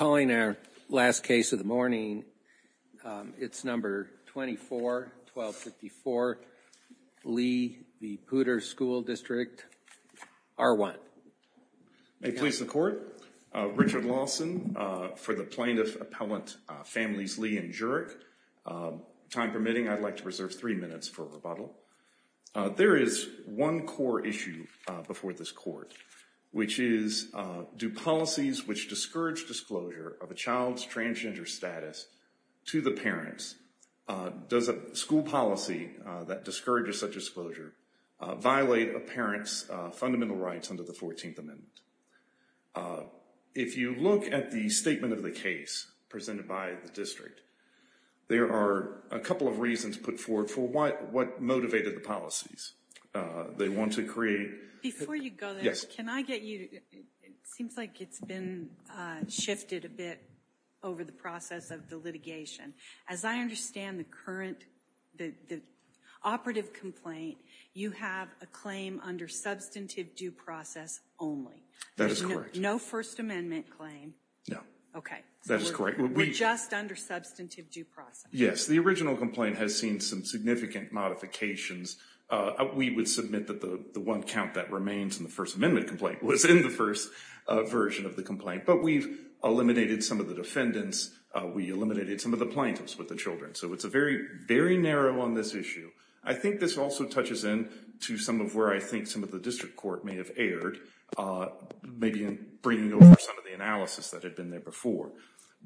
May it please the Court, Richard Lawson for the Plaintiff Appellant Families Lee and Jurek. Time permitting, I'd like to reserve three minutes for rebuttal. There is one core issue before this Court, which is do policies which discourage disclosure of a child's transgender status to the parents, does a school policy that discourages such disclosure violate a parent's fundamental rights under the 14th Amendment? If you look at the statement of the case presented by the district, there are a couple of reasons put forward for what motivated the policies. They want to create... Before you go there, can I get you, it seems like it's been shifted a bit over the process of the litigation. As I understand the current, the operative complaint, you have a claim under substantive due process only. That is correct. No First Amendment claim. No. Okay. That is correct. We're just under substantive due process. Yes, the original complaint has seen some significant modifications. We would submit that the one count that remains in the First Amendment complaint was in the first version of the complaint, but we've eliminated some of the defendants. We eliminated some of the plaintiffs with the children. So it's a very, very narrow on this issue. I think this also touches in to some of where I think some of the district court may have erred, maybe in bringing over some of the analysis that had been there before.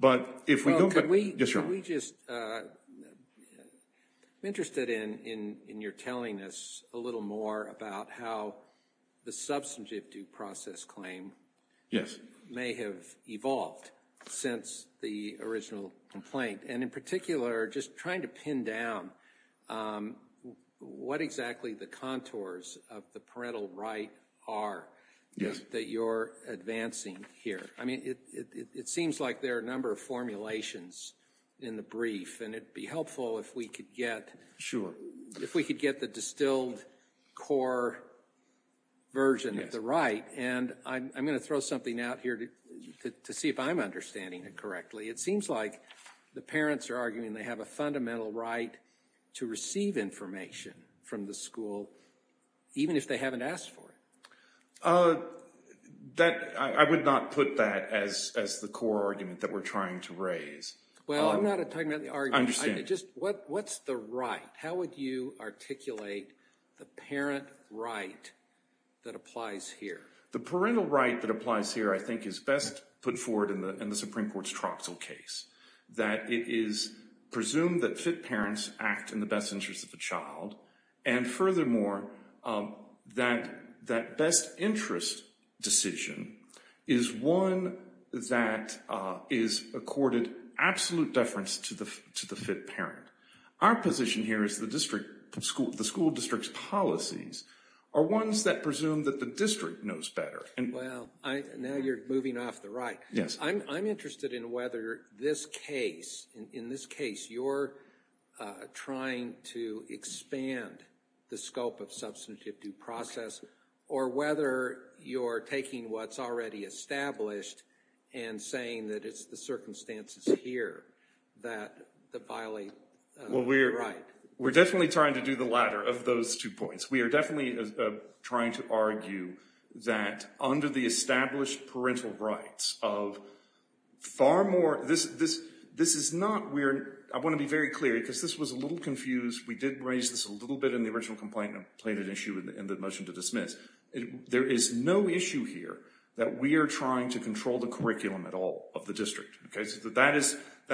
Could we just... I'm interested in your telling us a little more about how the substantive due process claim may have evolved since the original complaint, and in particular, just trying to pin down what exactly the contours of the parental right are that you're advancing here. I mean, it seems like there are a number of formulations in the brief, and it'd be helpful if we could get... Sure. If we could get the distilled core version of the right, and I'm going to throw something out here to see if I'm understanding it correctly. It seems like the parents are arguing they have a fundamental right to receive information from the school, even if they haven't asked for it. I would not put that as the core argument that we're trying to raise. Well, I'm not talking about the argument. I understand. What's the right? How would you articulate the parent right that applies here? The parental right that applies here, I think, is best put forward in the Supreme Court's Troxell case, that it is presumed that FIT parents act in the best interest of the child, and furthermore, that best interest decision is one that is accorded absolute deference to the FIT parent. Our position here is the school district's policies are ones that presume that the district knows better. Well, now you're moving off the right. Yes. I'm interested in whether this case, in this case, you're trying to expand the scope of substantive due process, or whether you're taking what's already established and saying that it's the circumstances here that violate the right. We're definitely trying to do the latter of those two points. We are definitely trying to argue that under the established parental rights of far more—this is not where—I want to be very clear, because this was a little confused. We did raise this a little bit in the original complaint, and I've played an issue in the motion to dismiss. There is no issue here that we are trying to control the curriculum at all of the district. That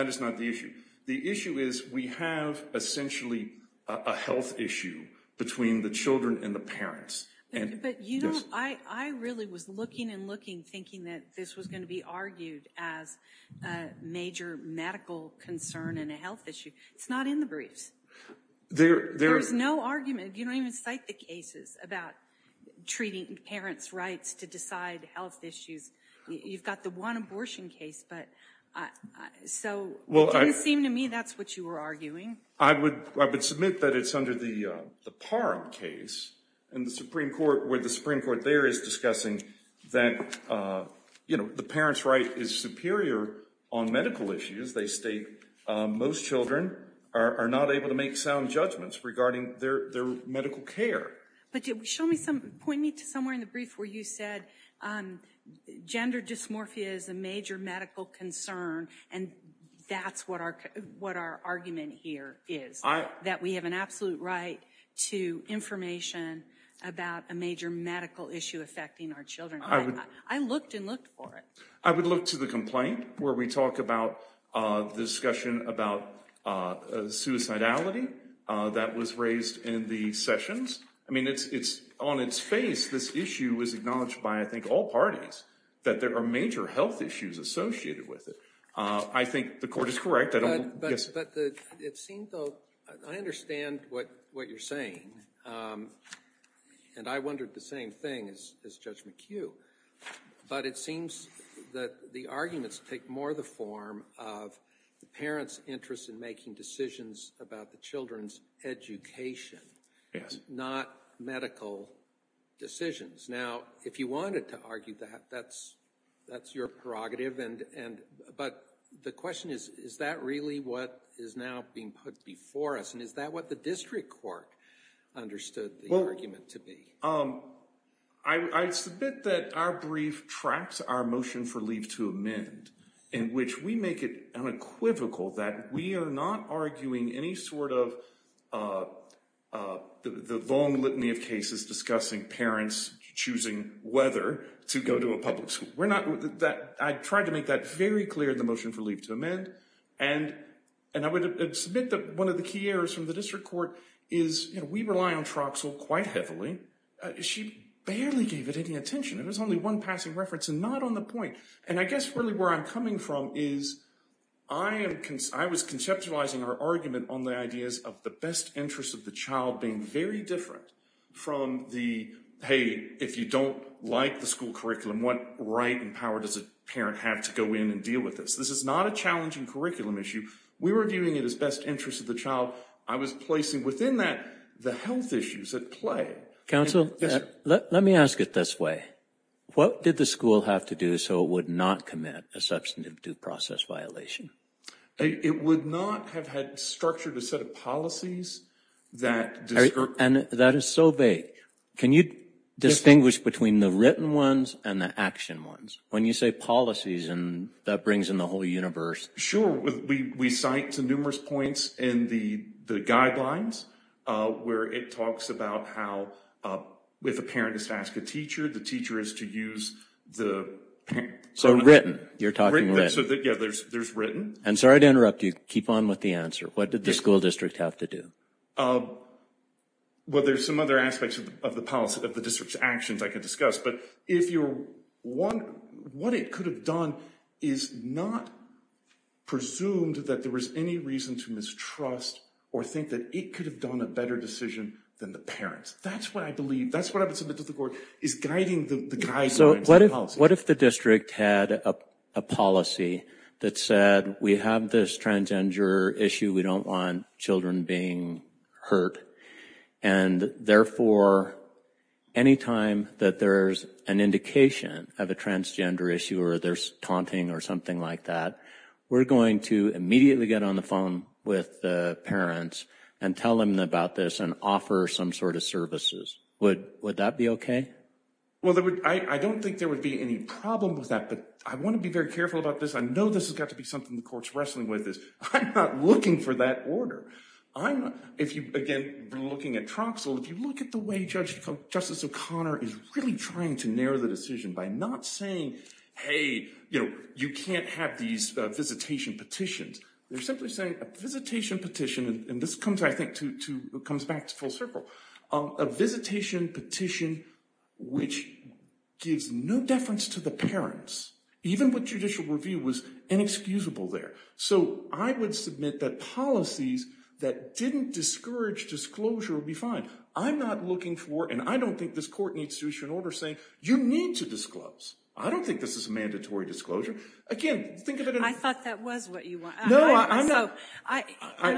is not the issue. The issue is we have essentially a health issue between the children and the parents. But you don't—I really was looking and looking, thinking that this was going to be argued as a major medical concern and a health issue. It's not in the briefs. There is no argument. You don't even cite the cases about treating parents' rights to decide health issues. You've got the one abortion case, but—so it didn't seem to me that's what you were arguing. I would submit that it's under the Parham case, where the Supreme Court there is discussing that the parents' right is superior on medical issues. They state most children are not able to make sound judgments regarding their medical care. But point me to somewhere in the brief where you said gender dysmorphia is a major medical concern, and that's what our argument here is, that we have an absolute right to information about a major medical issue affecting our children. I looked and looked for it. I would look to the complaint where we talk about the discussion about suicidality that was raised in the sessions. I mean, it's—on its face, this issue is acknowledged by, I think, all parties, that there are major health issues associated with it. I think the court is correct. But it seems, though—I understand what you're saying, and I wondered the same thing as Judge McHugh. But it seems that the arguments take more the form of the parents' interest in making decisions about the children's education, not medical decisions. Now, if you wanted to argue that, that's your prerogative. But the question is, is that really what is now being put before us, and is that what the district court understood the argument to be? I submit that our brief tracks our motion for leave to amend, in which we make it unequivocal that we are not arguing any sort of the long litany of cases discussing parents choosing whether to go to a public school. We're not—I tried to make that very clear in the motion for leave to amend. And I would submit that one of the key errors from the district court is we rely on Troxel quite heavily. She barely gave it any attention. It was only one passing reference, and not on the point. And I guess really where I'm coming from is I was conceptualizing our argument on the ideas of the best interest of the child being very different from the, hey, if you don't like the school curriculum, what right and power does a parent have to go in and deal with this? This is not a challenging curriculum issue. We were viewing it as best interest of the child. I was placing within that the health issues at play. Counsel, let me ask it this way. What did the school have to do so it would not commit a substantive due process violation? It would not have had structured a set of policies that— And that is so vague. Can you distinguish between the written ones and the action ones? When you say policies, that brings in the whole universe. Sure. We cite to numerous points in the guidelines where it talks about how if a parent is to ask a teacher, the teacher is to use the— So written. You're talking written. Yeah, there's written. And sorry to interrupt you. Keep on with the answer. What did the school district have to do? Well, there's some other aspects of the district's actions I could discuss. But if you're—what it could have done is not presumed that there was any reason to mistrust or think that it could have done a better decision than the parents. That's what I believe. That's what I would submit to the court, is guiding the guidelines and policy. What if the district had a policy that said, we have this transgender issue. We don't want children being hurt. And therefore, any time that there's an indication of a transgender issue or there's taunting or something like that, we're going to immediately get on the phone with the parents and tell them about this and offer some sort of services. Would that be okay? Well, I don't think there would be any problem with that. But I want to be very careful about this. I know this has got to be something the court's wrestling with, is I'm not looking for that order. If you, again, looking at Troxell, if you look at the way Justice O'Connor is really trying to narrow the decision by not saying, hey, you can't have these visitation petitions. They're simply saying a visitation petition, and this comes back to full circle. A visitation petition which gives no deference to the parents, even with judicial review, was inexcusable there. So I would submit that policies that didn't discourage disclosure would be fine. I'm not looking for, and I don't think this court needs to issue an order saying, you need to disclose. I don't think this is a mandatory disclosure. I thought that was what you wanted. No, I'm not. So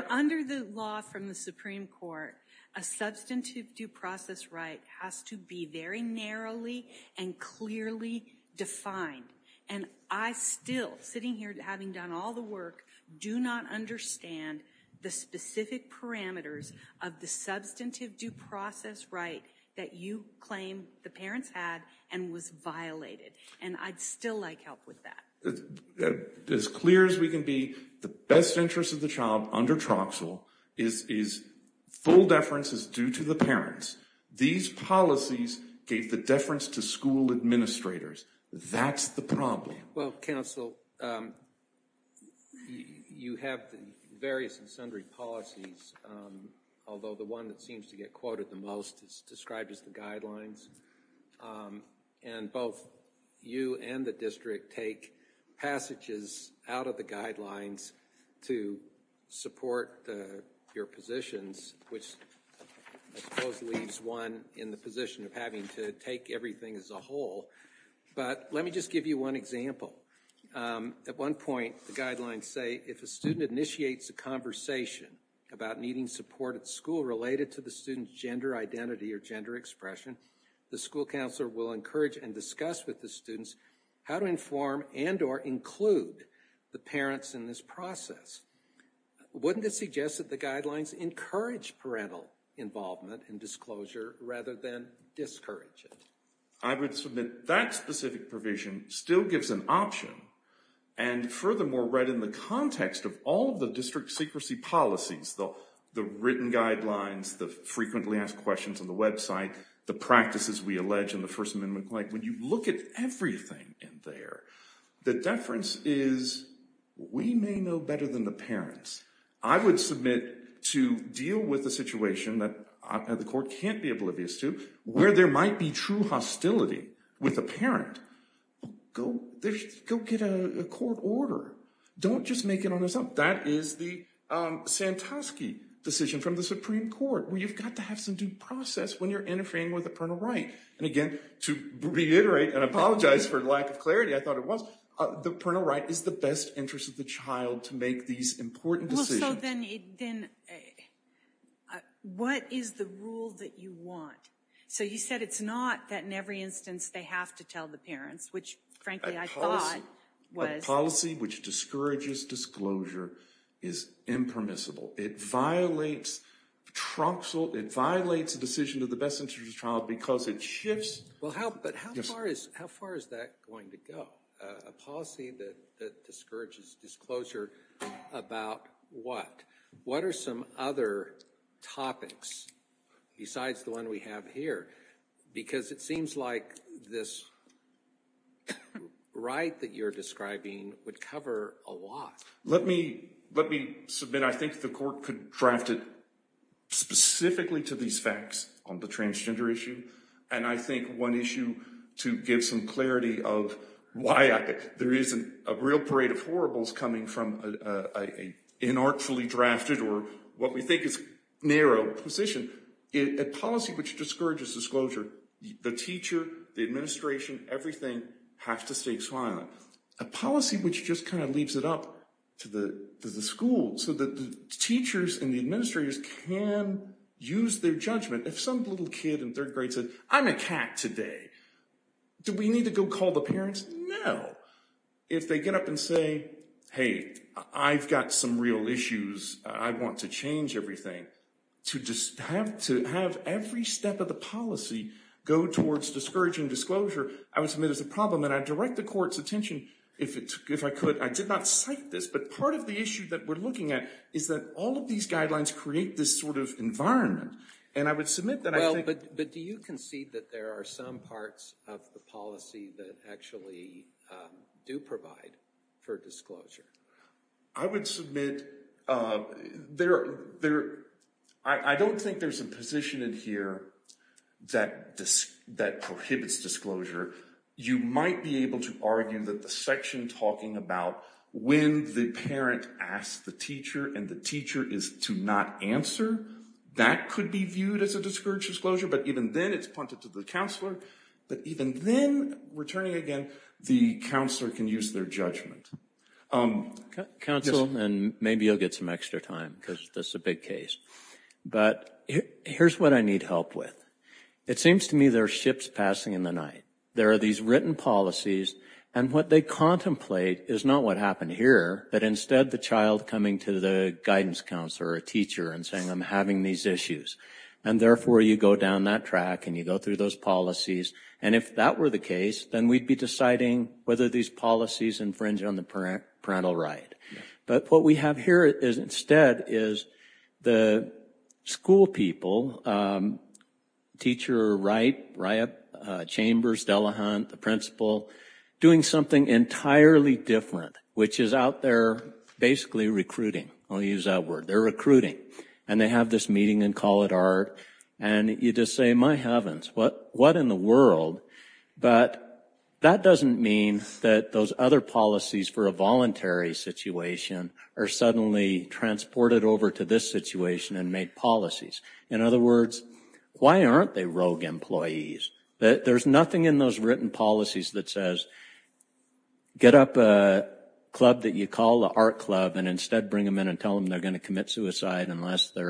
under the law from the Supreme Court, a substantive due process right has to be very narrowly and clearly defined. And I still, sitting here having done all the work, do not understand the specific parameters of the substantive due process right that you claim the parents had and was violated. And I'd still like help with that. As clear as we can be, the best interest of the child under Troxell is full deference is due to the parents. These policies gave the deference to school administrators. That's the problem. Well, counsel, you have various and sundry policies, although the one that seems to get quoted the most is described as the guidelines. And both you and the district take passages out of the guidelines to support your positions, which I suppose leaves one in the position of having to take everything as a whole. But let me just give you one example. At one point, the guidelines say if a student initiates a conversation about needing support at school related to the student's gender identity or gender expression, the school counselor will encourage and discuss with the students how to inform and or include the parents in this process. Wouldn't it suggest that the guidelines encourage parental involvement and disclosure rather than discourage it? I would submit that specific provision still gives an option. And furthermore, right in the context of all the district secrecy policies, the written guidelines, the frequently asked questions on the website, the practices we allege in the First Amendment, when you look at everything in there, the deference is we may know better than the parents. I would submit to deal with a situation that the court can't be oblivious to where there might be true hostility with a parent, go get a court order. Don't just make it on yourself. That is the Santosky decision from the Supreme Court, where you've got to have some due process when you're interfering with the parental right. And again, to reiterate and apologize for lack of clarity, I thought it was, the parental right is the best interest of the child to make these important decisions. So then what is the rule that you want? So you said it's not that in every instance they have to tell the parents, which frankly I thought was... A policy which discourages disclosure is impermissible. It violates the decision of the best interest of the child because it shifts... But how far is that going to go? A policy that discourages disclosure about what? What are some other topics besides the one we have here? Because it seems like this right that you're describing would cover a lot. Let me submit, I think the court could draft it specifically to these facts on the transgender issue. And I think one issue to give some clarity of why there isn't a real parade of horribles coming from an inartfully drafted or what we think is narrow position. A policy which discourages disclosure, the teacher, the administration, everything has to stay silent. A policy which just kind of leaves it up to the school so that the teachers and the administrators can use their judgment. If some little kid in third grade said, I'm a cat today, do we need to go call the parents? No. If they get up and say, hey, I've got some real issues, I want to change everything. To have every step of the policy go towards discouraging disclosure, I would submit is a problem. And I'd direct the court's attention if I could. I did not cite this, but part of the issue that we're looking at is that all of these guidelines create this sort of environment. And I would submit that I think... Well, but do you concede that there are some parts of the policy that actually do provide for disclosure? I would submit there... I don't think there's a position in here that prohibits disclosure. You might be able to argue that the section talking about when the parent asks the teacher and the teacher is to not answer, that could be viewed as a discouraged disclosure. But even then, it's pointed to the counselor. But even then, returning again, the counselor can use their judgment. Counsel, and maybe you'll get some extra time, because this is a big case. But here's what I need help with. It seems to me there are ships passing in the night. There are these written policies, and what they contemplate is not what happened here, but instead the child coming to the guidance counselor or teacher and saying, I'm having these issues. And therefore, you go down that track and you go through those policies. And if that were the case, then we'd be deciding whether these policies infringe on the parental right. But what we have here instead is the school people, teacher or right, RIAP, Chambers, Delahunt, the principal, doing something entirely different, which is out there basically recruiting. I'll use that word. They're recruiting. And they have this meeting and call it art. And you just say, my heavens, what in the world? But that doesn't mean that those other policies for a voluntary situation are suddenly transported over to this situation and make policies. In other words, why aren't they rogue employees? There's nothing in those written policies that says, get up a club that you call the art club and instead bring them in and tell them they're going to commit suicide unless they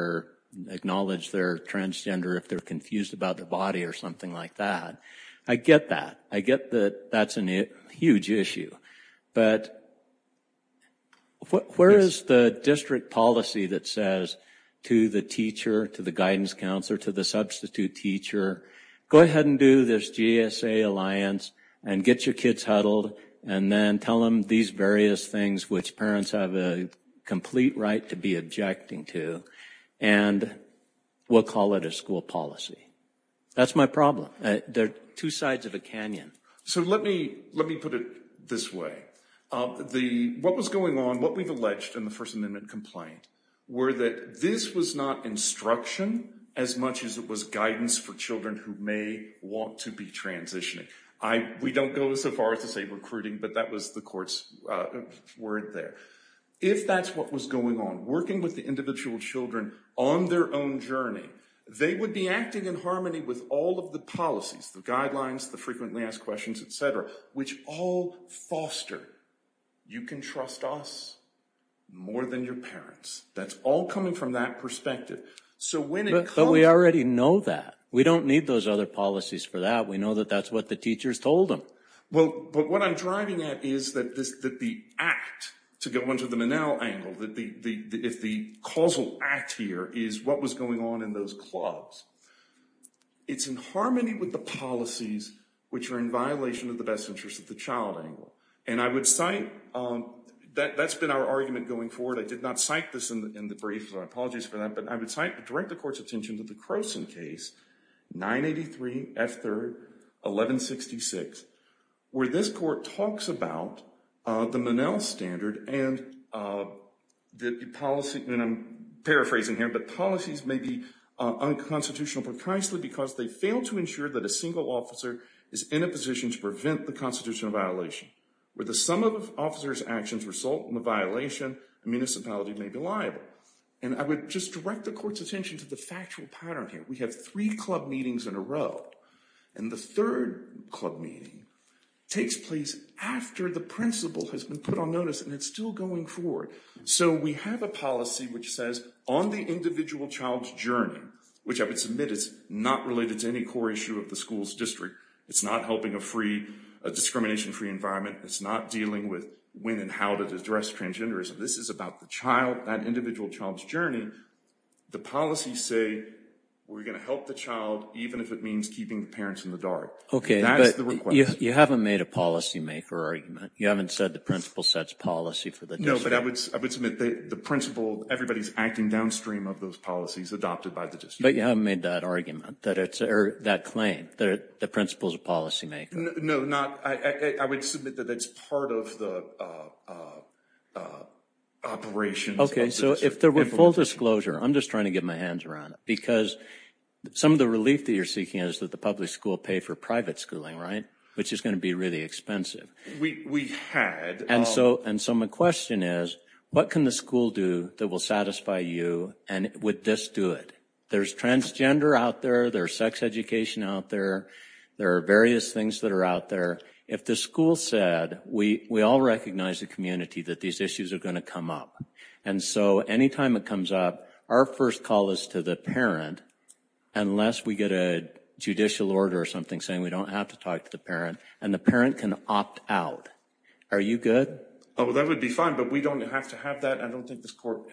acknowledge they're transgender, if they're confused about the body or something like that. I get that. I get that that's a huge issue. But where is the district policy that says to the teacher, to the guidance counselor, to the substitute teacher, go ahead and do this GSA alliance and get your kids huddled and then tell them these various things which parents have a complete right to be objecting to, and we'll call it a school policy. That's my problem. They're two sides of a canyon. So let me put it this way. What was going on, what we've alleged in the First Amendment complaint, were that this was not instruction as much as it was guidance for children who may want to be transitioning. We don't go so far as to say recruiting, but that was the court's word there. If that's what was going on, working with the individual children on their own journey, they would be acting in harmony with all of the policies, the guidelines, the frequently asked questions, et cetera, which all foster you can trust us more than your parents. That's all coming from that perspective. But we already know that. We don't need those other policies for that. We know that that's what the teachers told them. Well, but what I'm driving at is that the act, to go into the Minnell angle, if the causal act here is what was going on in those clubs, it's in harmony with the policies which are in violation of the best interests of the child angle. And I would cite, that's been our argument going forward. I did not cite this in the brief, so I apologize for that. But I would direct the court's attention to the Croson case, 983 F. 3rd, 1166, where this court talks about the Minnell standard and the policy, and I'm paraphrasing here, but policies may be unconstitutional precisely because they fail to ensure that a single officer is in a position to prevent the constitutional violation, where the sum of officers' actions result in the violation, the municipality may be liable. And I would just direct the court's attention to the factual pattern here. We have three club meetings in a row, and the third club meeting takes place after the principal has been put on notice, and it's still going forward. So we have a policy which says, on the individual child's journey, which I would submit is not related to any core issue of the school's district. It's not helping a free, a discrimination-free environment. It's not dealing with when and how to address transgenderism. This is about the child, that individual child's journey. The policies say we're going to help the child, even if it means keeping the parents in the dark. That is the request. Okay, but you haven't made a policymaker argument. You haven't said the principal sets policy for the district. No, but I would submit the principal, everybody's acting downstream of those policies adopted by the district. But you haven't made that argument, or that claim, that the principal is a policymaker. No, I would submit that that's part of the operation. Okay, so if there were full disclosure, I'm just trying to get my hands around it, because some of the relief that you're seeking is that the public school pay for private schooling, right, which is going to be really expensive. We had. And so my question is, what can the school do that will satisfy you, and would this do it? There's transgender out there. There's sex education out there. There are various things that are out there. If the school said, we all recognize the community that these issues are going to come up, and so any time it comes up, our first call is to the parent, unless we get a judicial order or something saying we don't have to talk to the parent, and the parent can opt out. Are you good? Oh, that would be fine, but we don't have to have that. I don't think this court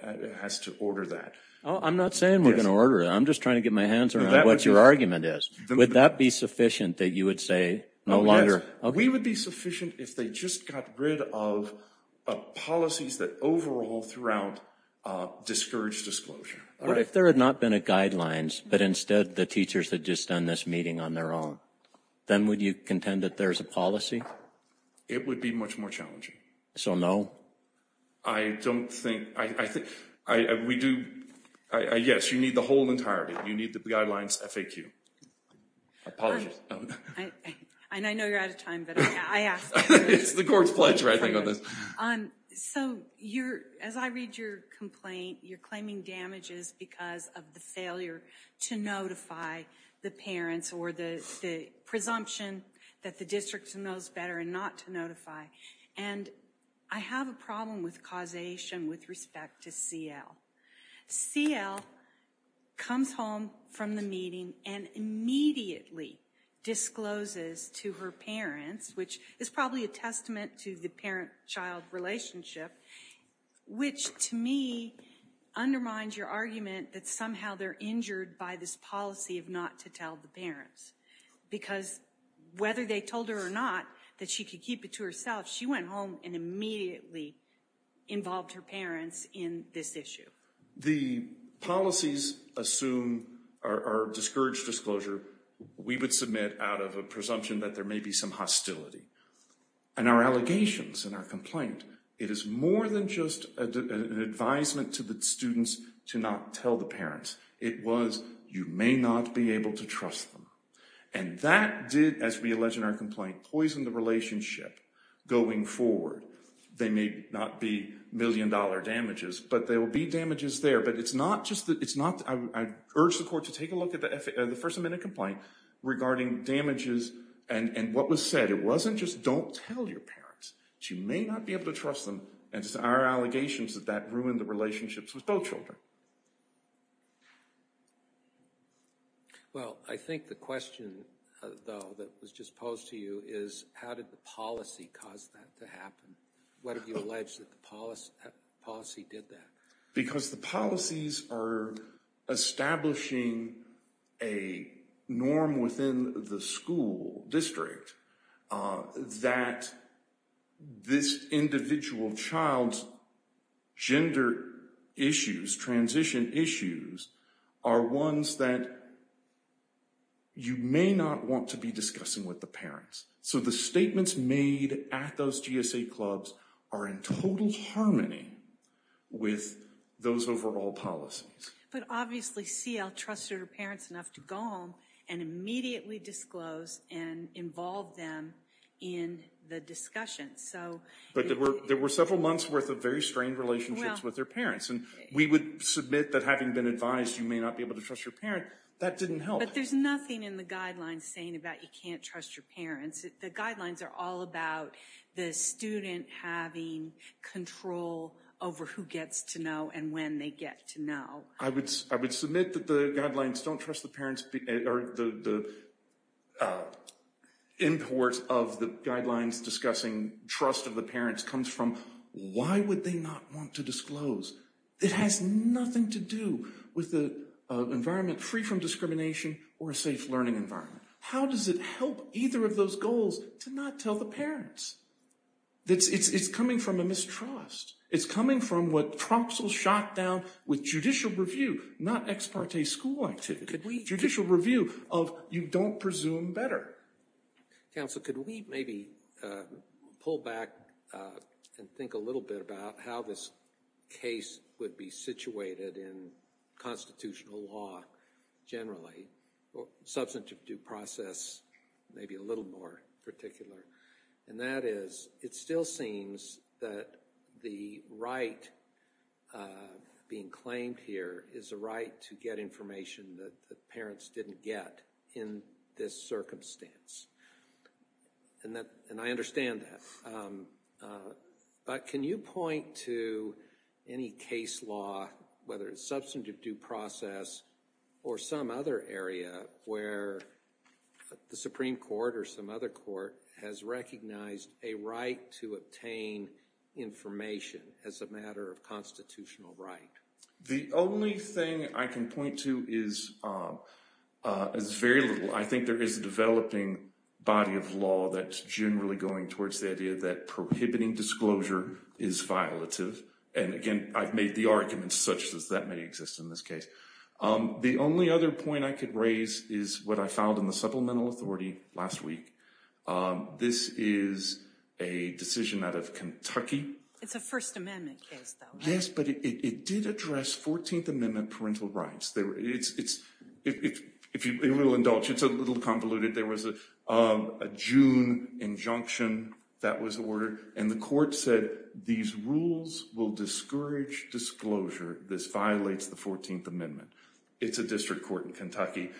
has to order that. I'm not saying we're going to order it. I'm just trying to get my hands around what your argument is. Would that be sufficient that you would say no longer? We would be sufficient if they just got rid of policies that overall throughout discouraged disclosure. What if there had not been a guidelines, but instead the teachers had just done this meeting on their own? Then would you contend that there's a policy? It would be much more challenging. So no? I don't think. I think. We do. Yes, you need the whole entirety. You need the guidelines FAQ. I apologize. I know you're out of time, but I ask. It's the court's pleasure, I think, on this. So as I read your complaint, you're claiming damages because of the failure to notify the parents or the presumption that the district knows better and not to notify. And I have a problem with causation with respect to CL. CL comes home from the meeting and immediately discloses to her parents, which is probably a testament to the parent-child relationship, which to me undermines your argument that somehow they're injured by this policy of not to tell the parents. Because whether they told her or not that she could keep it to herself, she went home and immediately involved her parents in this issue. The policies assume or discourage disclosure we would submit out of a presumption that there may be some hostility. And our allegations in our complaint, it is more than just an advisement to the students to not tell the parents. It was you may not be able to trust them. And that did, as we allege in our complaint, poison the relationship going forward. There may not be million-dollar damages, but there will be damages there. But it's not just that – I urge the court to take a look at the first amendment complaint regarding damages and what was said. It wasn't just don't tell your parents. She may not be able to trust them, and it's our allegations that that ruined the relationships with both children. Well, I think the question, though, that was just posed to you is how did the policy cause that to happen? Why did you allege that the policy did that? Because the policies are establishing a norm within the school district that this individual child's gender issues, transition issues, are ones that you may not want to be discussing with the parents. So the statements made at those GSA clubs are in total harmony with those overall policies. But obviously CL trusted her parents enough to go home and immediately disclose and involve them in the discussion. But there were several months' worth of very strained relationships with their parents. And we would submit that having been advised you may not be able to trust your parent, that didn't help. But there's nothing in the guidelines saying about you can't trust your parents. The guidelines are all about the student having control over who gets to know and when they get to know. I would submit that the guidelines don't trust the parents – or the import of the guidelines discussing trust of the parents comes from why would they not want to disclose? It has nothing to do with an environment free from discrimination or a safe learning environment. How does it help either of those goals to not tell the parents? It's coming from a mistrust. It's coming from what Tromso shot down with judicial review, not ex parte school like. Judicial review of you don't presume better. Counsel, could we maybe pull back and think a little bit about how this case would be situated in constitutional law generally? Substantive due process maybe a little more particular. And that is, it still seems that the right being claimed here is a right to get information that the parents didn't get in this circumstance. And I understand that. But can you point to any case law, whether it's substantive due process or some other area where the Supreme Court or some other court has recognized a right to obtain information as a matter of constitutional right? The only thing I can point to is very little. I think there is a developing body of law that's generally going towards the idea that prohibiting disclosure is violative. And again, I've made the arguments such as that may exist in this case. The only other point I could raise is what I found in the supplemental authority last week. This is a decision out of Kentucky. It's a First Amendment case, though. Yes, but it did address 14th Amendment parental rights. If you will indulge, it's a little convoluted. There was a June injunction that was ordered. And the court said, these rules will discourage disclosure. This violates the 14th Amendment. It's a district court in Kentucky.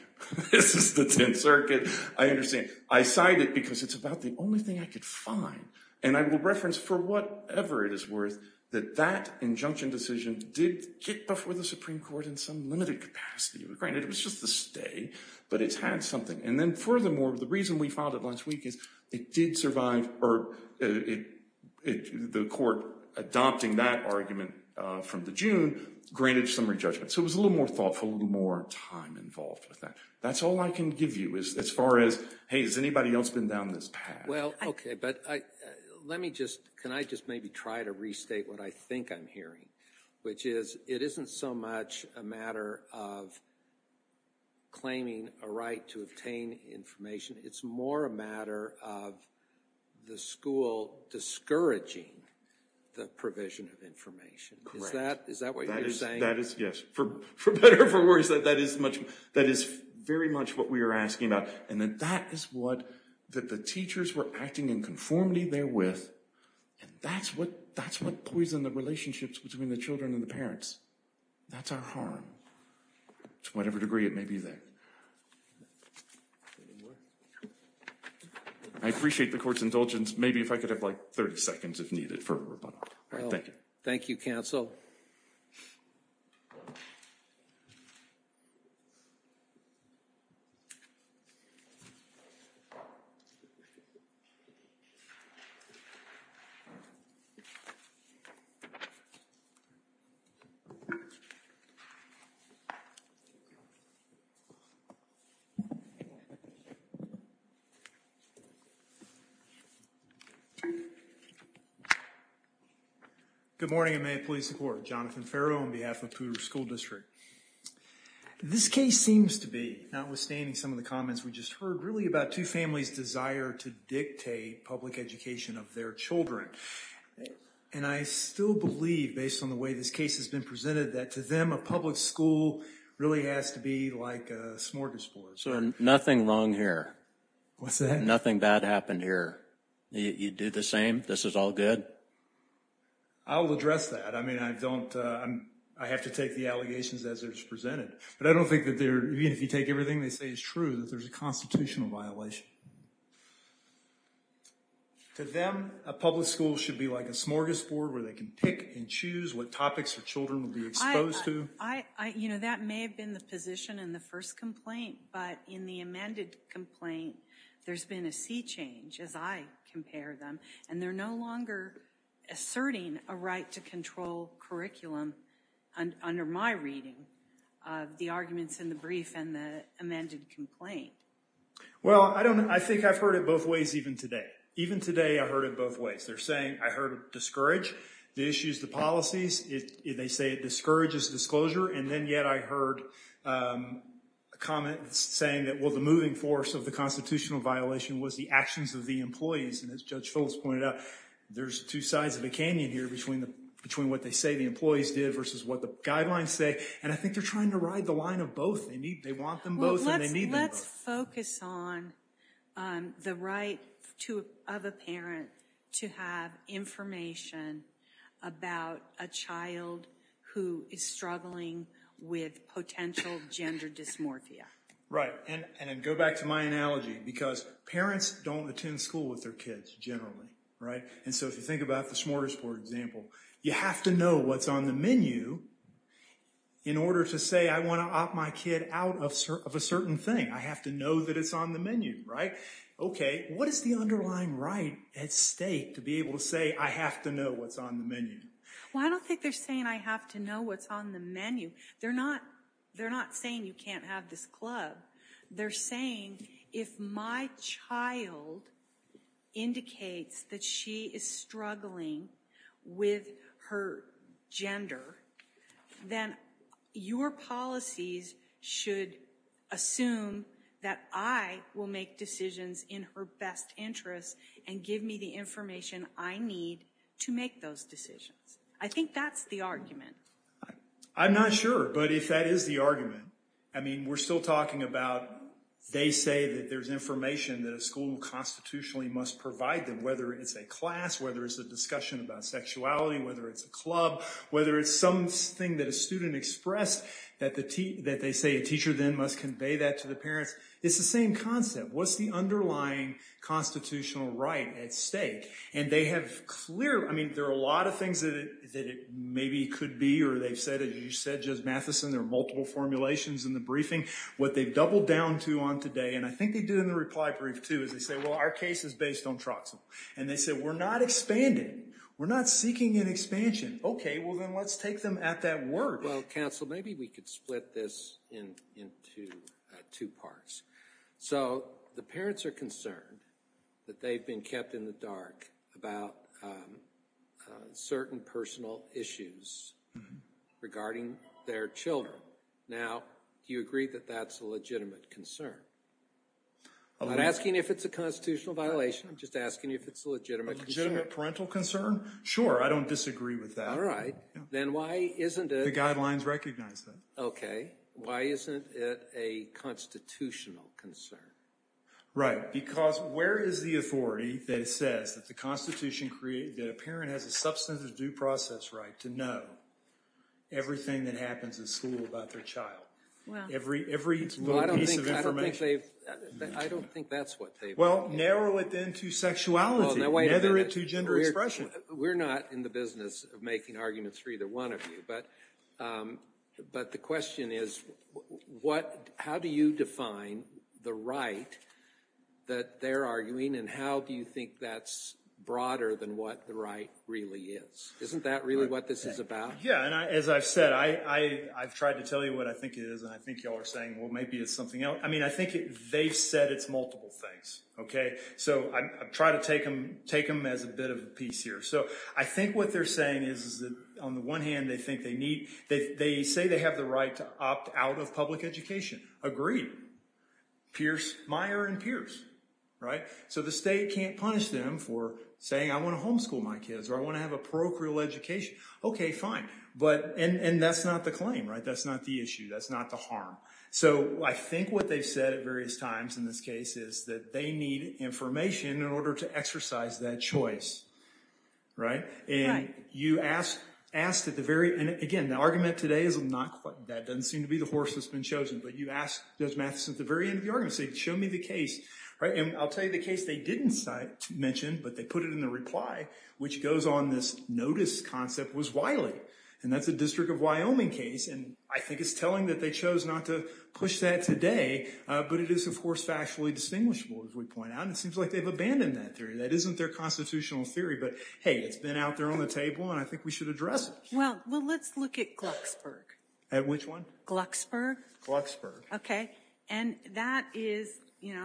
This is the 10th Circuit. I understand. I cite it because it's about the only thing I could find. And I will reference, for whatever it is worth, that that injunction decision did get before the Supreme Court in some limited capacity. Granted, it was just a stay, but it's had something. And then furthermore, the reason we filed it last week is it did survive, or the court adopting that argument from the June granted summary judgment. So it was a little more thoughtful, a little more time involved with that. That's all I can give you as far as, hey, has anybody else been down this path? Well, OK, but can I just maybe try to restate what I think I'm hearing, which is it isn't so much a matter of claiming a right to obtain information. It's more a matter of the school discouraging the provision of information. Correct. Is that what you're saying? Yes. For better or for worse, that is very much what we are asking about. And that is what the teachers were acting in conformity there with. And that's what poisoned the relationships between the children and the parents. That's our harm, to whatever degree it may be there. I appreciate the court's indulgence. Maybe if I could have like 30 seconds, if needed, for a rebuttal. Thank you. Thank you, counsel. Good morning and may it please the court. Jonathan Farrow on behalf of Poudre School District. This case seems to be, notwithstanding some of the comments we just heard, really about two families' desire to dictate public education of their children. And I still believe, based on the way this case has been presented, that to them a public school really has to be like a smorgasbord. Sir, nothing wrong here. What's that? Nothing bad happened here. You do the same? This is all good? I will address that. I mean, I don't, I have to take the allegations as they're presented. But I don't think that they're, even if you take everything they say is true, that there's a constitutional violation. To them, a public school should be like a smorgasbord where they can pick and choose what topics their children will be exposed to. I, you know, that may have been the position in the first complaint. But in the amended complaint, there's been a sea change, as I compare them. And they're no longer asserting a right to control curriculum under my reading of the arguments in the brief and the amended complaint. Well, I don't, I think I've heard it both ways even today. Even today, I've heard it both ways. They're saying, I heard it discourage the issues, the policies. They say it discourages disclosure. And then yet I heard a comment saying that, well, the moving force of the constitutional violation was the actions of the employees. And as Judge Phillips pointed out, there's two sides of a canyon here between what they say the employees did versus what the guidelines say. And I think they're trying to ride the line of both. They want them both and they need them both. I would focus on the right of a parent to have information about a child who is struggling with potential gender dysmorphia. Right. And go back to my analogy, because parents don't attend school with their kids generally, right? And so if you think about the smorgasbord example, you have to know what's on the menu in order to say, I want to opt my kid out of a certain thing. I have to know that it's on the menu, right? OK. What is the underlying right at stake to be able to say, I have to know what's on the menu? Well, I don't think they're saying I have to know what's on the menu. They're not saying you can't have this club. They're saying if my child indicates that she is struggling with her gender, then your policies should assume that I will make decisions in her best interest and give me the information I need to make those decisions. I think that's the argument. I'm not sure. But if that is the argument, I mean, we're still talking about they say that there's information that a school constitutionally must provide them, whether it's a class, whether it's a discussion about sexuality, whether it's a club, whether it's something that a student expressed that they say a teacher then must convey that to the parents. It's the same concept. What's the underlying constitutional right at stake? I mean, there are a lot of things that it maybe could be. Or they've said, as you said, Judge Matheson, there are multiple formulations in the briefing. What they've doubled down to on today, and I think they did in the reply brief too, is they say, well, our case is based on Troxel. And they said, we're not expanding. We're not seeking an expansion. OK, well, then let's take them at that word. Well, counsel, maybe we could split this into two parts. So the parents are concerned that they've been kept in the dark about certain personal issues regarding their children. Now, do you agree that that's a legitimate concern? I'm not asking if it's a constitutional violation. I'm just asking you if it's a legitimate concern. A legitimate parental concern? Sure, I don't disagree with that. All right. Then why isn't it? The guidelines recognize that. OK. Why isn't it a constitutional concern? Right, because where is the authority that says that a parent has a substantive due process right to know everything that happens in school about their child? Well, I don't think they've. I don't think that's what they've. Well, narrow it then to sexuality. Nether it to gender expression. We're not in the business of making arguments for either one of you. But the question is, how do you define the right that they're arguing? And how do you think that's broader than what the right really is? Isn't that really what this is about? Yeah. And as I've said, I've tried to tell you what I think it is. And I think you all are saying, well, maybe it's something else. I mean, I think they've said it's multiple things. OK? So I try to take them as a bit of a piece here. So I think what they're saying is that, on the one hand, they think they need. They say they have the right to opt out of public education. Agreed. Pierce, Meyer, and Pierce. Right? So the state can't punish them for saying, I want to homeschool my kids, or I want to have a parochial education. OK, fine. And that's not the claim, right? That's not the issue. That's not the harm. So I think what they've said at various times in this case is that they need information in order to exercise that choice. Right. And you asked at the very end. Again, the argument today is not quite that. It doesn't seem to be the horse that's been chosen. But you asked Judge Mathison at the very end of the argument. You said, show me the case. Right? And I'll tell you the case they didn't mention, but they put it in the reply, which goes on this notice concept, was Wiley. And that's a District of Wyoming case. And I think it's telling that they chose not to push that today. But it is, of course, factually distinguishable, as we point out. And it seems like they've abandoned that theory. That isn't their constitutional theory. But hey, it's been out there on the table, and I think we should address it. Well, let's look at Glucksburg. At which one? Glucksburg. Glucksburg. OK. And that is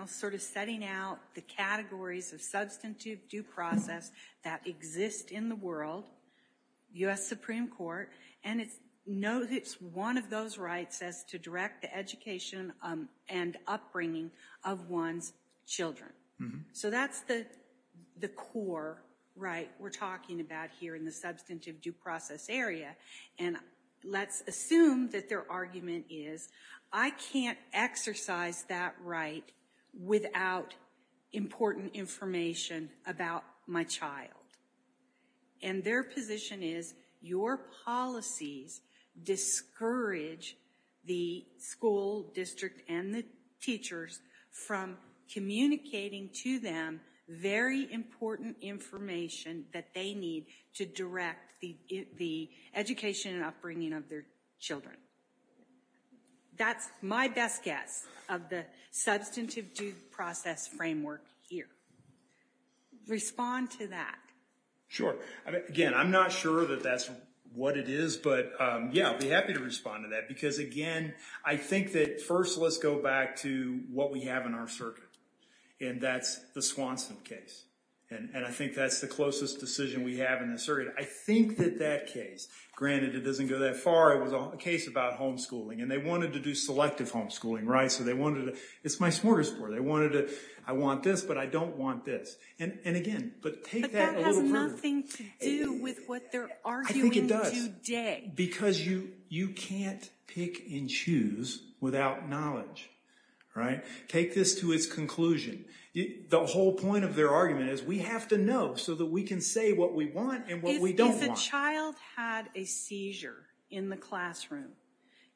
sort of setting out the categories of substantive due process that exist in the world, U.S. Supreme Court. And it's one of those rights as to direct the education and upbringing of one's children. So that's the core right we're talking about here in the substantive due process area. And let's assume that their argument is, I can't exercise that right without important information about my child. And their position is, your policies discourage the school district and the teachers from communicating to them very important information that they need to direct the education and upbringing of their children. That's my best guess of the substantive due process framework here. Respond to that. Sure. Again, I'm not sure that that's what it is, but, yeah, I'll be happy to respond to that. Because, again, I think that first let's go back to what we have in our circuit. And that's the Swanson case. And I think that's the closest decision we have in this area. I think that that case, granted it doesn't go that far, it was a case about homeschooling. And they wanted to do selective homeschooling, right? So they wanted to – it's my smorgasbord. They wanted to – I want this, but I don't want this. And, again, but take that a little further. But that has nothing to do with what they're arguing today. I think it does. Because you can't pick and choose without knowledge, right? Take this to its conclusion. The whole point of their argument is we have to know so that we can say what we want and what we don't want. If a child had a seizure in the classroom,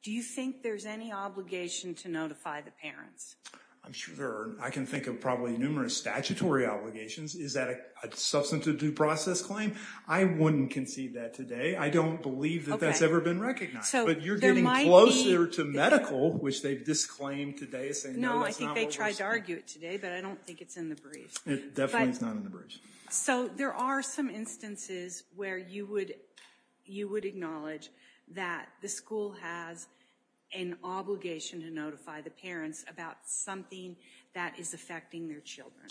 do you think there's any obligation to notify the parents? I'm sure there are. I can think of probably numerous statutory obligations. Is that a substantive due process claim? I wouldn't conceive that today. I don't believe that that's ever been recognized. But you're getting closer to medical, which they've disclaimed today as saying, no, that's not what we're saying. No, I think they tried to argue it today, but I don't think it's in the brief. It definitely is not in the brief. So there are some instances where you would acknowledge that the school has an obligation to notify the parents about something that is affecting their children.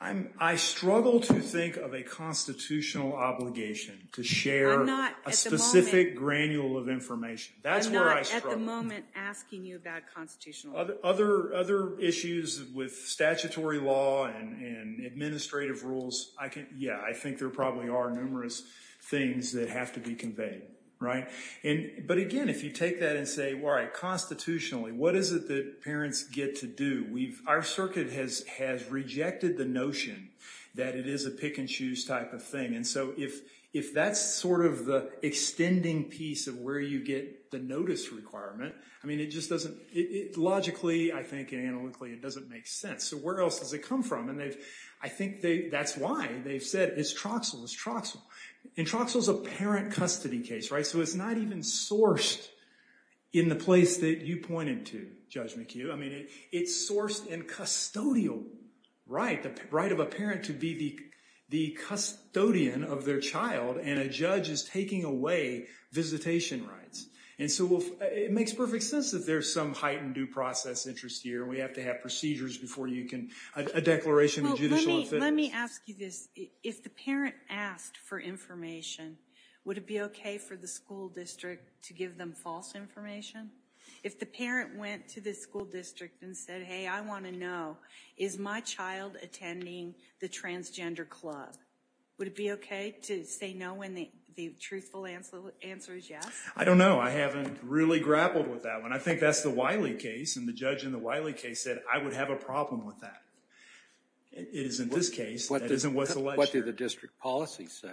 I struggle to think of a constitutional obligation to share a specific granule of information. That's where I struggle. I'm not at the moment asking you about constitutional. Other issues with statutory law and administrative rules, yeah, I think there probably are numerous things that have to be conveyed. But again, if you take that and say, all right, constitutionally, what is it that parents get to do? Our circuit has rejected the notion that it is a pick and choose type of thing. And so if that's sort of the extending piece of where you get the notice requirement, logically, I think, analytically, it doesn't make sense. So where else does it come from? I think that's why they've said, it's Troxel. It's Troxel. And Troxel's a parent custody case, right? So it's not even sourced in the place that you pointed to, Judge McHugh. I mean, it's sourced in custodial right, the right of a parent to be the custodian of their child. And a judge is taking away visitation rights. And so it makes perfect sense that there's some heightened due process interest here. We have to have procedures before you can, a declaration of judicial affairs. Let me ask you this. If the parent asked for information, would it be OK for the school district to give them false information? If the parent went to the school district and said, hey, I want to know, is my child attending the transgender club? Would it be OK to say no when the truthful answer is yes? I don't know. I haven't really grappled with that one. I think that's the Wiley case. And the judge in the Wiley case said, I would have a problem with that. It isn't this case. That isn't what's alleged. What do the district policies say?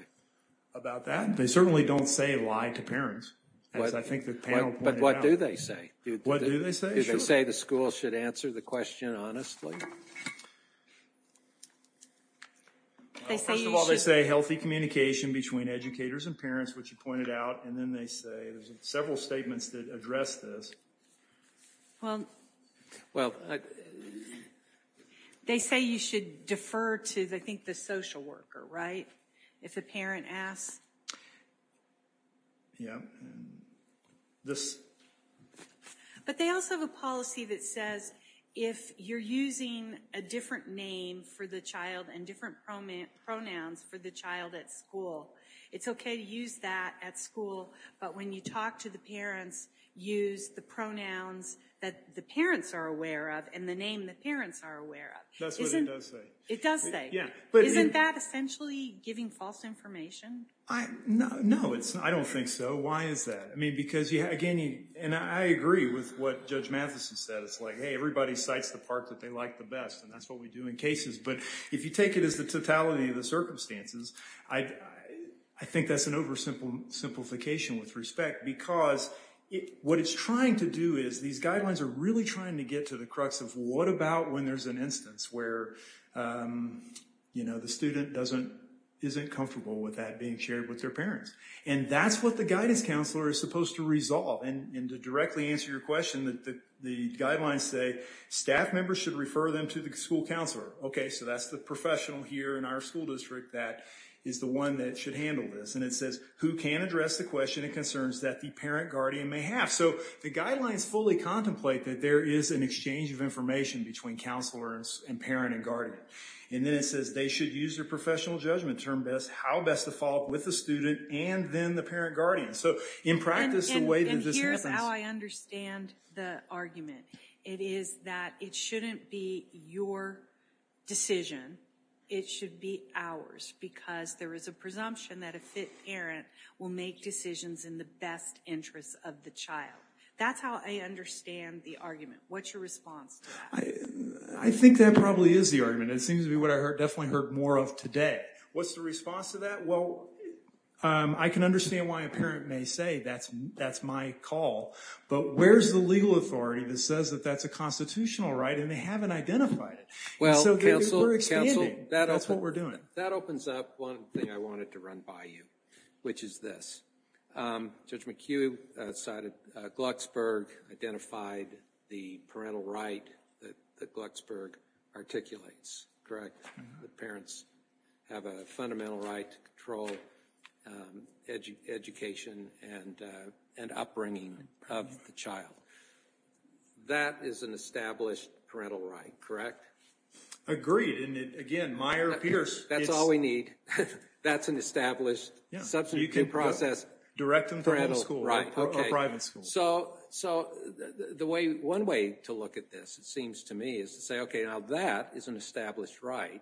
About that? They certainly don't say lie to parents. As I think the panel pointed out. But what do they say? What do they say? Do they say the school should answer the question honestly? First of all, they say healthy communication between educators and parents, which you pointed out. And then they say there's several statements that address this. They say you should defer to, I think, the social worker, right? If a parent asks. Yeah. But they also have a policy that says, if you're using a different name for the child and different pronouns for the child at school, it's OK to use that at school. But when you talk to the parents, use the pronouns that the parents are aware of and the name the parents are aware of. That's what it does say. It does say. Yeah. Isn't that essentially giving false information? No, I don't think so. Why is that? I mean, because, again, and I agree with what Judge Matheson said. It's like, hey, everybody cites the part that they like the best. And that's what we do in cases. But if you take it as the totality of the circumstances, I think that's an oversimplification with respect. Because what it's trying to do is, these guidelines are really trying to get to the crux of, what about when there's an instance where the student isn't comfortable with that being shared with their parents? And that's what the guidance counselor is supposed to resolve. And to directly answer your question, the guidelines say, staff members should refer them to the school counselor. OK, so that's the professional here in our school district that is the one that should handle this. And it says, who can address the question and concerns that the parent guardian may have? So the guidelines fully contemplate that there is an exchange of information between counselors and parent and guardian. And then it says, they should use their professional judgment to determine how best to follow up with the student and then the parent guardian. So in practice, the way that this happens— And here's how I understand the argument. It is that it shouldn't be your decision. It should be ours, because there is a presumption that a fit parent will make decisions in the best interest of the child. That's how I understand the argument. What's your response to that? I think that probably is the argument. It seems to be what I definitely heard more of today. What's the response to that? Well, I can understand why a parent may say, that's my call. But where's the legal authority that says that that's a constitutional right and they haven't identified it? We're expanding. That's what we're doing. That opens up one thing I wanted to run by you, which is this. Judge McHugh cited—Glucksberg identified the parental right that Glucksberg articulates, correct? That parents have a fundamental right to control education and upbringing of the child. That is an established parental right, correct? Agreed. And again, Meyer-Pierce— That's all we need. That's an established, substantive process. Direct them to homeschool or private school. So, one way to look at this, it seems to me, is to say, okay, now that is an established right.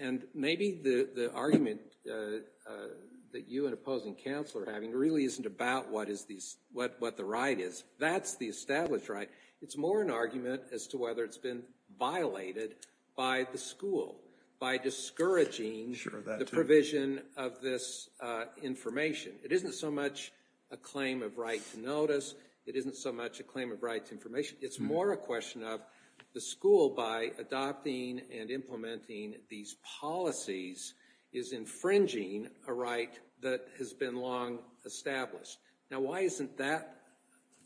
And maybe the argument that you and opposing counsel are having really isn't about what the right is. That's the established right. It's more an argument as to whether it's been violated by the school, by discouraging the provision of this information. It isn't so much a claim of right to notice. It isn't so much a claim of right to information. It's more a question of the school, by adopting and implementing these policies, is infringing a right that has been long established. Now, why isn't that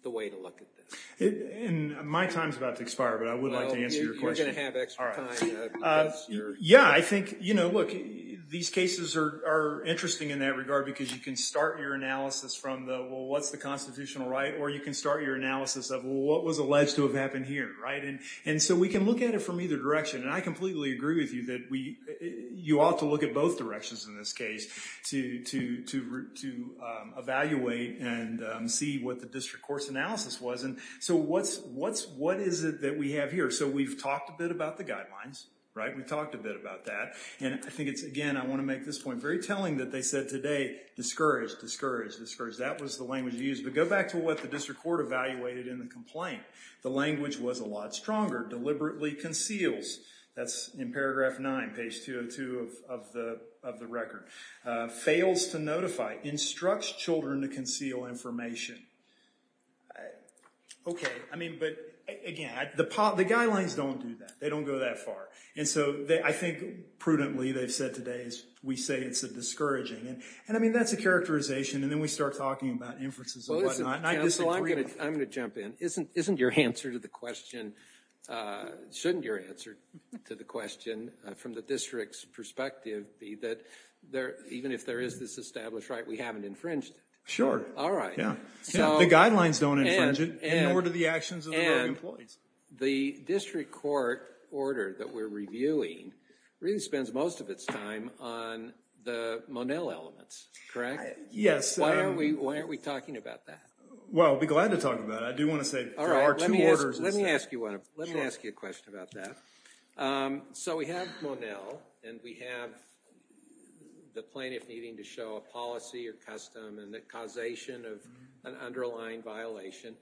the way to look at this? My time is about to expire, but I would like to answer your question. Well, you're going to have extra time. Yeah, I think, you know, look, these cases are interesting in that regard because you can start your analysis from the, well, what's the constitutional right, or you can start your analysis of, well, what was alleged to have happened here, right? And so we can look at it from either direction. And I completely agree with you that you ought to look at both directions in this case to evaluate and see what the district court's analysis was. And so what is it that we have here? So we've talked a bit about the guidelines, right? We've talked a bit about that. And I think it's, again, I want to make this point very telling that they said today, discouraged, discouraged, discouraged. That was the language used. But go back to what the district court evaluated in the complaint. The language was a lot stronger. Deliberately conceals. That's in paragraph 9, page 202 of the record. Fails to notify. Instructs children to conceal information. Okay, I mean, but, again, the guidelines don't do that. They don't go that far. And so I think prudently they've said today is we say it's a discouraging. And, I mean, that's a characterization. And then we start talking about inferences and whatnot. And I disagree. I'm going to jump in. Isn't your answer to the question, shouldn't your answer to the question from the district's perspective be that even if there is this established right, we haven't infringed it? Sure. All right. The guidelines don't infringe it, nor do the actions of the employees. The district court order that we're reviewing really spends most of its time on the Monell elements, correct? Yes. Why aren't we talking about that? Well, I'd be glad to talk about it. I do want to say there are two orders. All right. Let me ask you a question about that. So we have Monell, and we have the plaintiff needing to show a policy or custom and the causation of an underlying violation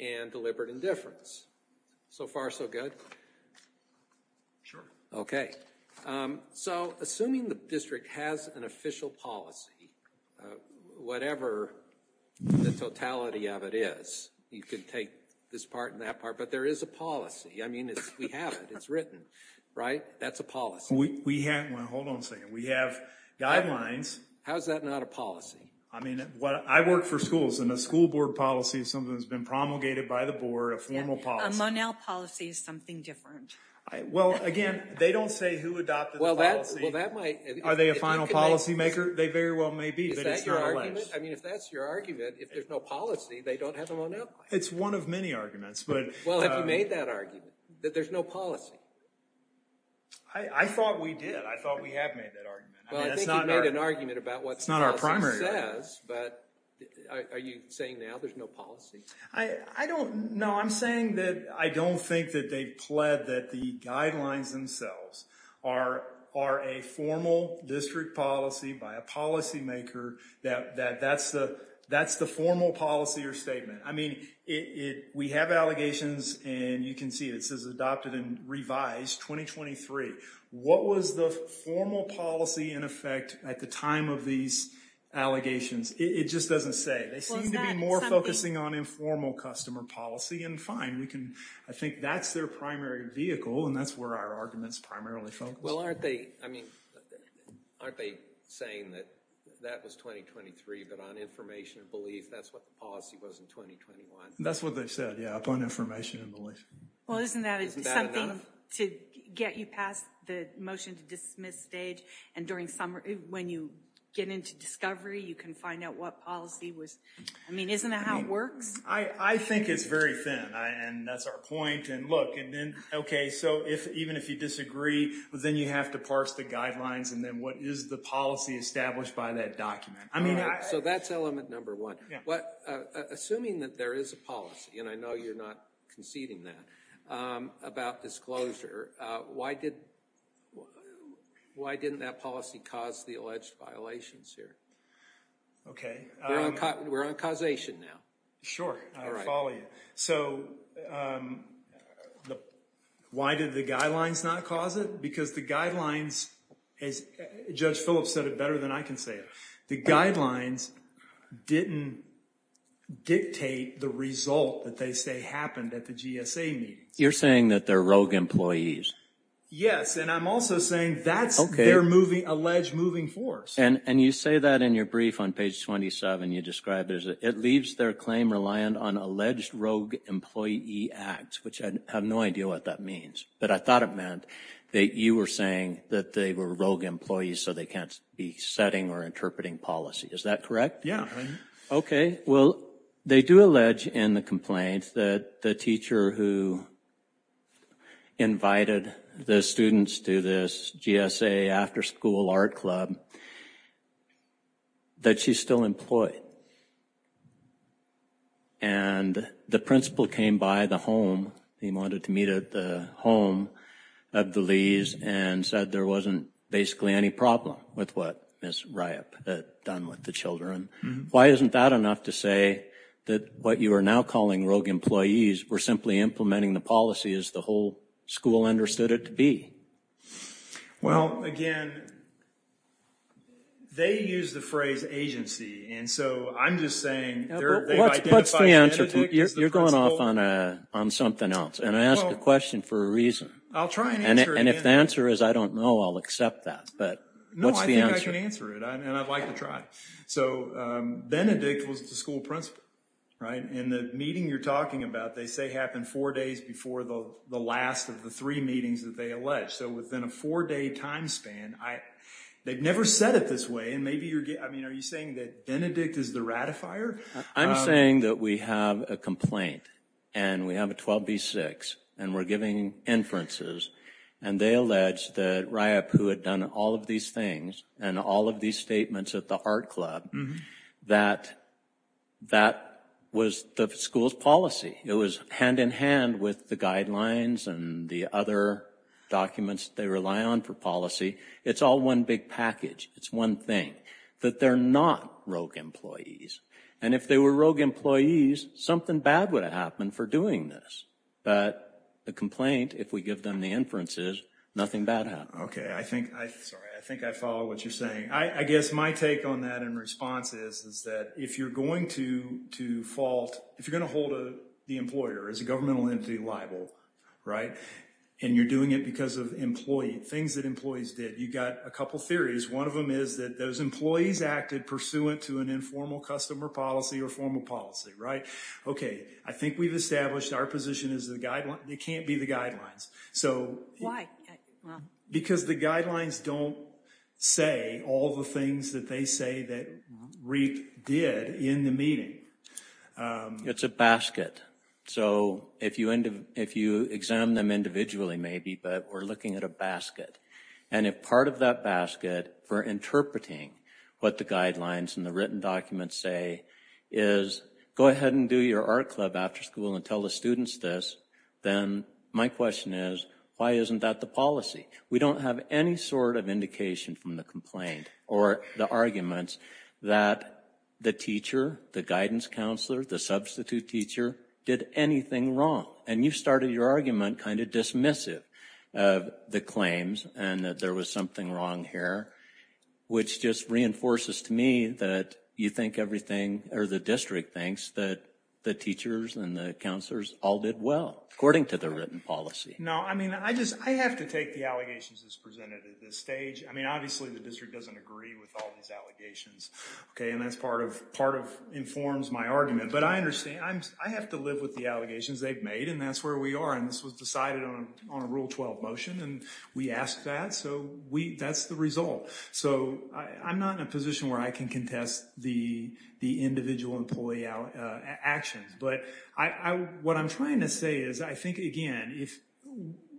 and deliberate indifference. So far so good? Sure. Okay. So assuming the district has an official policy, whatever the totality of it is, you can take this part and that part. But there is a policy. I mean, we have it. It's written. Right? That's a policy. Well, hold on a second. We have guidelines. How is that not a policy? I mean, I work for schools, and a school board policy is something that's been promulgated by the board, a formal policy. A Monell policy is something different. Well, again, they don't say who adopted the policy. Are they a final policymaker? They very well may be, but it's their own lives. Is that your argument? I mean, if that's your argument, if there's no policy, they don't have a Monell policy. It's one of many arguments. Well, have you made that argument, that there's no policy? I thought we did. I thought we have made that argument. Well, I think you've made an argument about what the policy says. It's not our primary argument. But are you saying now there's no policy? I don't know. I'm saying that I don't think that they've pled that the guidelines themselves are a formal district policy by a policymaker, that that's the formal policy or statement. I mean, we have allegations, and you can see it. It says adopted and revised 2023. What was the formal policy in effect at the time of these allegations? It just doesn't say. They seem to be more focusing on informal customer policy, and fine. I think that's their primary vehicle, and that's where our argument's primarily focused. Well, aren't they saying that that was 2023, but on information and belief, that's what the policy was in 2021? That's what they said, yeah, upon information and belief. Well, isn't that something to get you past the motion to dismiss stage? And when you get into discovery, you can find out what policy was. I mean, isn't that how it works? I think it's very thin, and that's our point. Okay, so even if you disagree, then you have to parse the guidelines, and then what is the policy established by that document? So that's element number one. Assuming that there is a policy, and I know you're not conceding that, about disclosure, why didn't that policy cause the alleged violations here? We're on causation now. Sure, I'll follow you. So why did the guidelines not cause it? Because the guidelines, as Judge Phillips said it better than I can say it, the guidelines didn't dictate the result that they say happened at the GSA meeting. You're saying that they're rogue employees. Yes, and I'm also saying that's their alleged moving force. And you say that in your brief on page 27. You describe it as it leaves their claim reliant on alleged rogue employee acts, which I have no idea what that means. But I thought it meant that you were saying that they were rogue employees, so they can't be setting or interpreting policy. Is that correct? Yeah. Okay, well, they do allege in the complaint that the teacher who invited the students to this GSA after school art club, that she's still employed. And the principal came by the home, he wanted to meet at the home of the Lees, and said there wasn't basically any problem with what Ms. Ryop had done with the children. Why isn't that enough to say that what you are now calling rogue employees were simply implementing the policy as the whole school understood it to be? Well, again, they use the phrase agency. And so I'm just saying they identify Benedict as the principal. What's the answer? You're going off on something else. And I asked the question for a reason. I'll try and answer it again. And if the answer is I don't know, I'll accept that. But what's the answer? No, I think I can answer it, and I'd like to try. So Benedict was the school principal, right? In the meeting you're talking about, they say it happened four days before the last of the three meetings that they allege. So within a four-day time span, they've never said it this way. And maybe you're getting, I mean, are you saying that Benedict is the ratifier? I'm saying that we have a complaint, and we have a 12B-6, and we're giving inferences. And they allege that Ryapu had done all of these things and all of these statements at the art club, that that was the school's policy. It was hand-in-hand with the guidelines and the other documents they rely on for policy. It's all one big package. It's one thing. But they're not rogue employees. And if they were rogue employees, something bad would have happened for doing this. But the complaint, if we give them the inferences, nothing bad happens. Okay. Sorry, I think I follow what you're saying. I guess my take on that in response is that if you're going to fault, if you're going to hold the employer as a governmental entity liable, right, and you're doing it because of things that employees did, you've got a couple theories. One of them is that those employees acted pursuant to an informal customer policy or formal policy, right? Okay. I think we've established our position is it can't be the guidelines. Why? Because the guidelines don't say all the things that they say that Ryapu did in the meeting. It's a basket. So if you examine them individually maybe, but we're looking at a basket. And if part of that basket for interpreting what the guidelines and the written documents say is go ahead and do your art club after school and tell the students this, then my question is why isn't that the policy? We don't have any sort of indication from the complaint or the arguments that the teacher, the guidance counselor, the substitute teacher did anything wrong. And you started your argument kind of dismissive of the claims and that there was something wrong here, which just reinforces to me that you think everything or the district thinks that the teachers and the counselors all did well, according to the written policy. No, I mean, I just I have to take the allegations as presented at this stage. I mean, obviously, the district doesn't agree with all these allegations. Okay. And that's part of part of informs my argument. But I understand. I have to live with the allegations they've made. And that's where we are. And this was decided on a rule 12 motion. And we asked that. So we that's the result. So I'm not in a position where I can contest the the individual employee actions. But I what I'm trying to say is, I think, again, if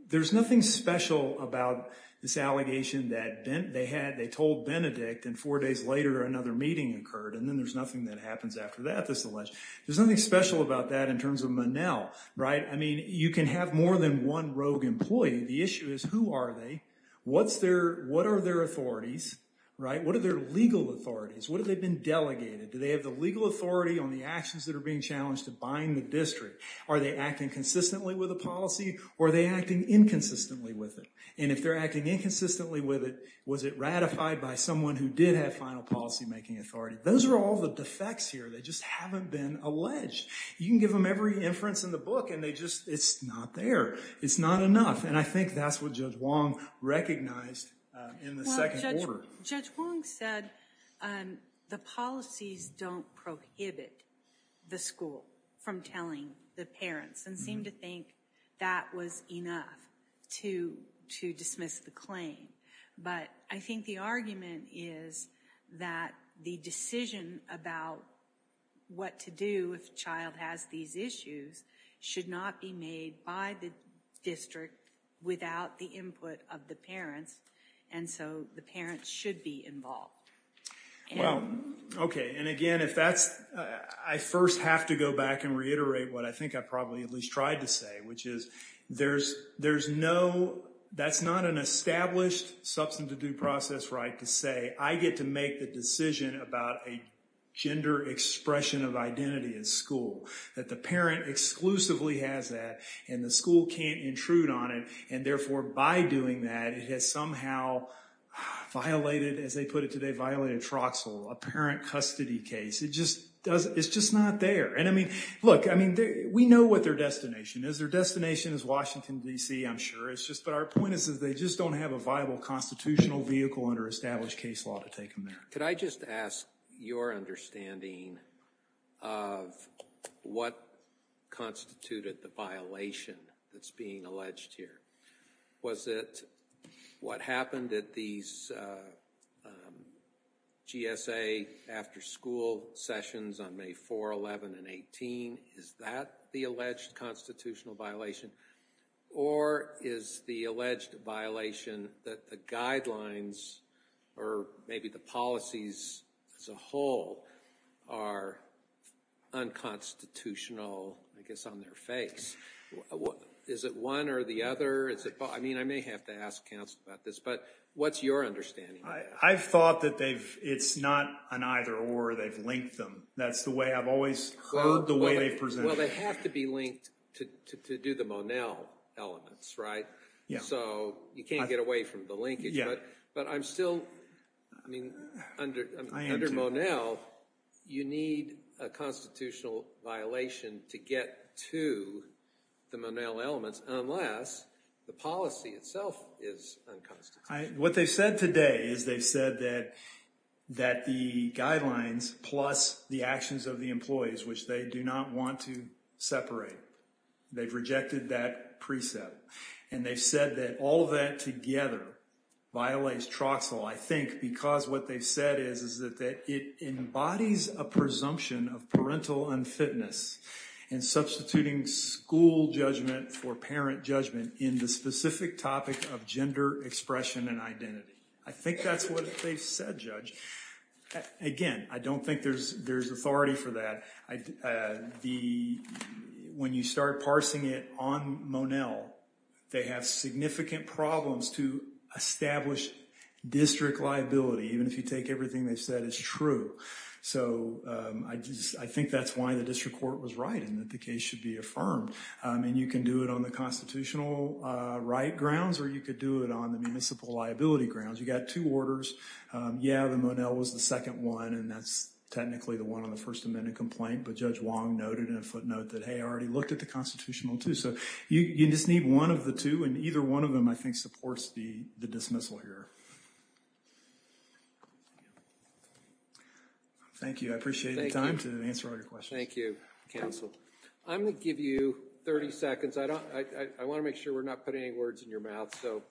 there's nothing special about this allegation that they had, they told Benedict and four days later, another meeting occurred. And then there's nothing that happens after that. This alleged there's nothing special about that in terms of Menel. Right. I mean, you can have more than one rogue employee. The issue is, who are they? What's their what are their authorities? Right. What are their legal authorities? What have they been delegated? Do they have the legal authority on the actions that are being challenged to bind the district? Are they acting consistently with a policy? Or are they acting inconsistently with it? And if they're acting inconsistently with it, was it ratified by someone who did have final policymaking authority? Those are all the defects here. They just haven't been alleged. You can give them every inference in the book. And they just it's not there. It's not enough. And I think that's what Judge Wong recognized. Well, Judge Wong said the policies don't prohibit the school from telling the parents. And seemed to think that was enough to dismiss the claim. But I think the argument is that the decision about what to do if a child has these issues should not be made by the district without the input of the parents. And so the parents should be involved. Well, okay. And again, if that's I first have to go back and reiterate what I think I probably at least tried to say, which is there's no that's not an established substance of due process right to say, I get to make the decision about a gender expression of identity at school. That the parent exclusively has that. And the school can't intrude on it. And therefore, by doing that, it has somehow violated, as they put it today, violated Troxel, a parent custody case. It just doesn't it's just not there. And I mean, look, I mean, we know what their destination is. Their destination is Washington, D.C., I'm sure. It's just that our point is that they just don't have a viable constitutional vehicle under established case law to take them there. Could I just ask your understanding of what constituted the violation that's being alleged here? Was it what happened at these GSA after school sessions on May 4, 11, and 18? Is that the alleged constitutional violation? Or is the alleged violation that the guidelines or maybe the policies as a whole are unconstitutional, I guess, on their face? Is it one or the other? I mean, I may have to ask counsel about this, but what's your understanding? I've thought that they've it's not an either or they've linked them. That's the way I've always heard the way they present. Well, they have to be linked to do the Monell elements, right? Yeah. So you can't get away from the linkage. But I'm still I mean, under Monell, you need a constitutional violation to get to the Monell elements unless the policy itself is unconstitutional. What they said today is they said that that the guidelines plus the actions of the employees, which they do not want to separate, they've rejected that precept. And they said that all of that together violates Troxel. I think because what they said is, is that it embodies a presumption of parental unfitness and substituting school judgment for parent judgment in the specific topic of gender expression and identity. I think that's what they said, Judge. Again, I don't think there's there's authority for that. The when you start parsing it on Monell, they have significant problems to establish district liability, even if you take everything they've said is true. So I just I think that's why the district court was right and that the case should be affirmed. And you can do it on the constitutional right grounds or you could do it on the municipal liability grounds. You got two orders. Yeah, the Monell was the second one, and that's technically the one on the First Amendment complaint. But Judge Wong noted in a footnote that he already looked at the constitutional, too. So you just need one of the two and either one of them, I think, supports the dismissal here. Thank you. I appreciate the time to answer all your questions. Thank you, counsel. I'm going to give you 30 seconds. I don't I want to make sure we're not putting any words in your mouth. So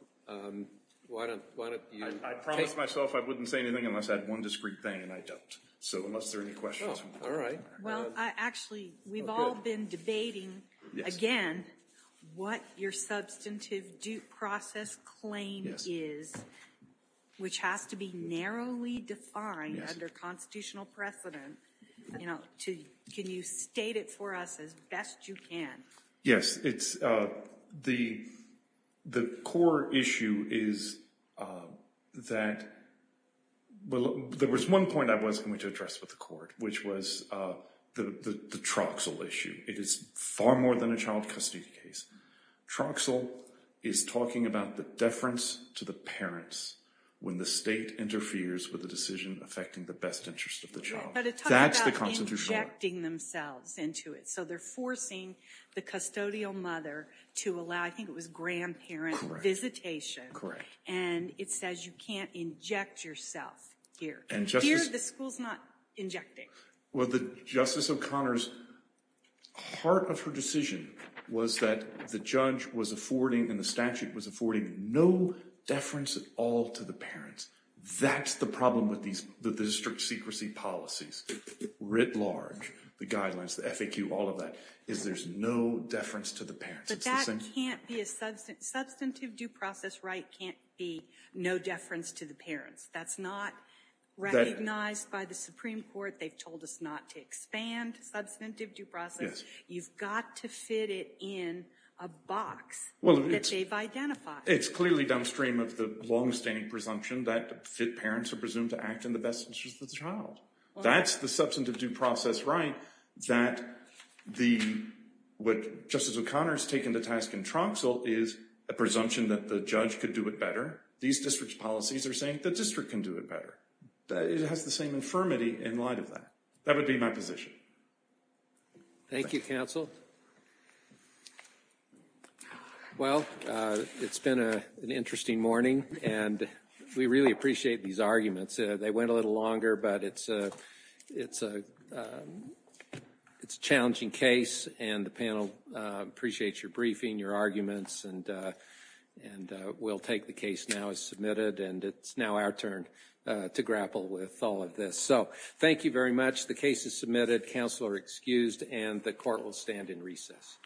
why don't why don't I promise myself I wouldn't say anything unless I had one discreet thing and I don't. So unless there are any questions. All right. Well, actually, we've all been debating again what your substantive due process claim is, which has to be narrowly defined under constitutional precedent. Can you state it for us as best you can? Yes, it's the the core issue is that. Well, there was one point I was going to address with the court, which was the Truxell issue. It is far more than a child custody case. Truxell is talking about the deference to the parents when the state interferes with the decision affecting the best interest of the child. That's the constitutional injecting themselves into it. So they're forcing the custodial mother to allow. I think it was grandparent visitation. Correct. And it says you can't inject yourself here and just hear the school's not injecting. Well, the Justice O'Connor's heart of her decision was that the judge was affording and the statute was affording no deference at all to the parents. That's the problem with these district secrecy policies writ large. The guidelines, the FAQ, all of that is there's no deference to the parents. But that can't be a substantive substantive due process. Wright can't be no deference to the parents. That's not recognized by the Supreme Court. They've told us not to expand substantive due process. You've got to fit it in a box. Well, it's clearly downstream of the longstanding presumption that parents are presumed to act in the best interest of the child. That's the substantive due process, right? That the what Justice O'Connor has taken to task in Tromso is a presumption that the judge could do it better. These district's policies are saying the district can do it better. It has the same infirmity in light of that. That would be my position. Thank you, counsel. Well, it's been an interesting morning and we really appreciate these arguments. They went a little longer, but it's a challenging case. And the panel appreciates your briefing, your arguments, and we'll take the case now as submitted. And it's now our turn to grapple with all of this. So thank you very much. The case is submitted. Counsel are excused and the court will stand in recess.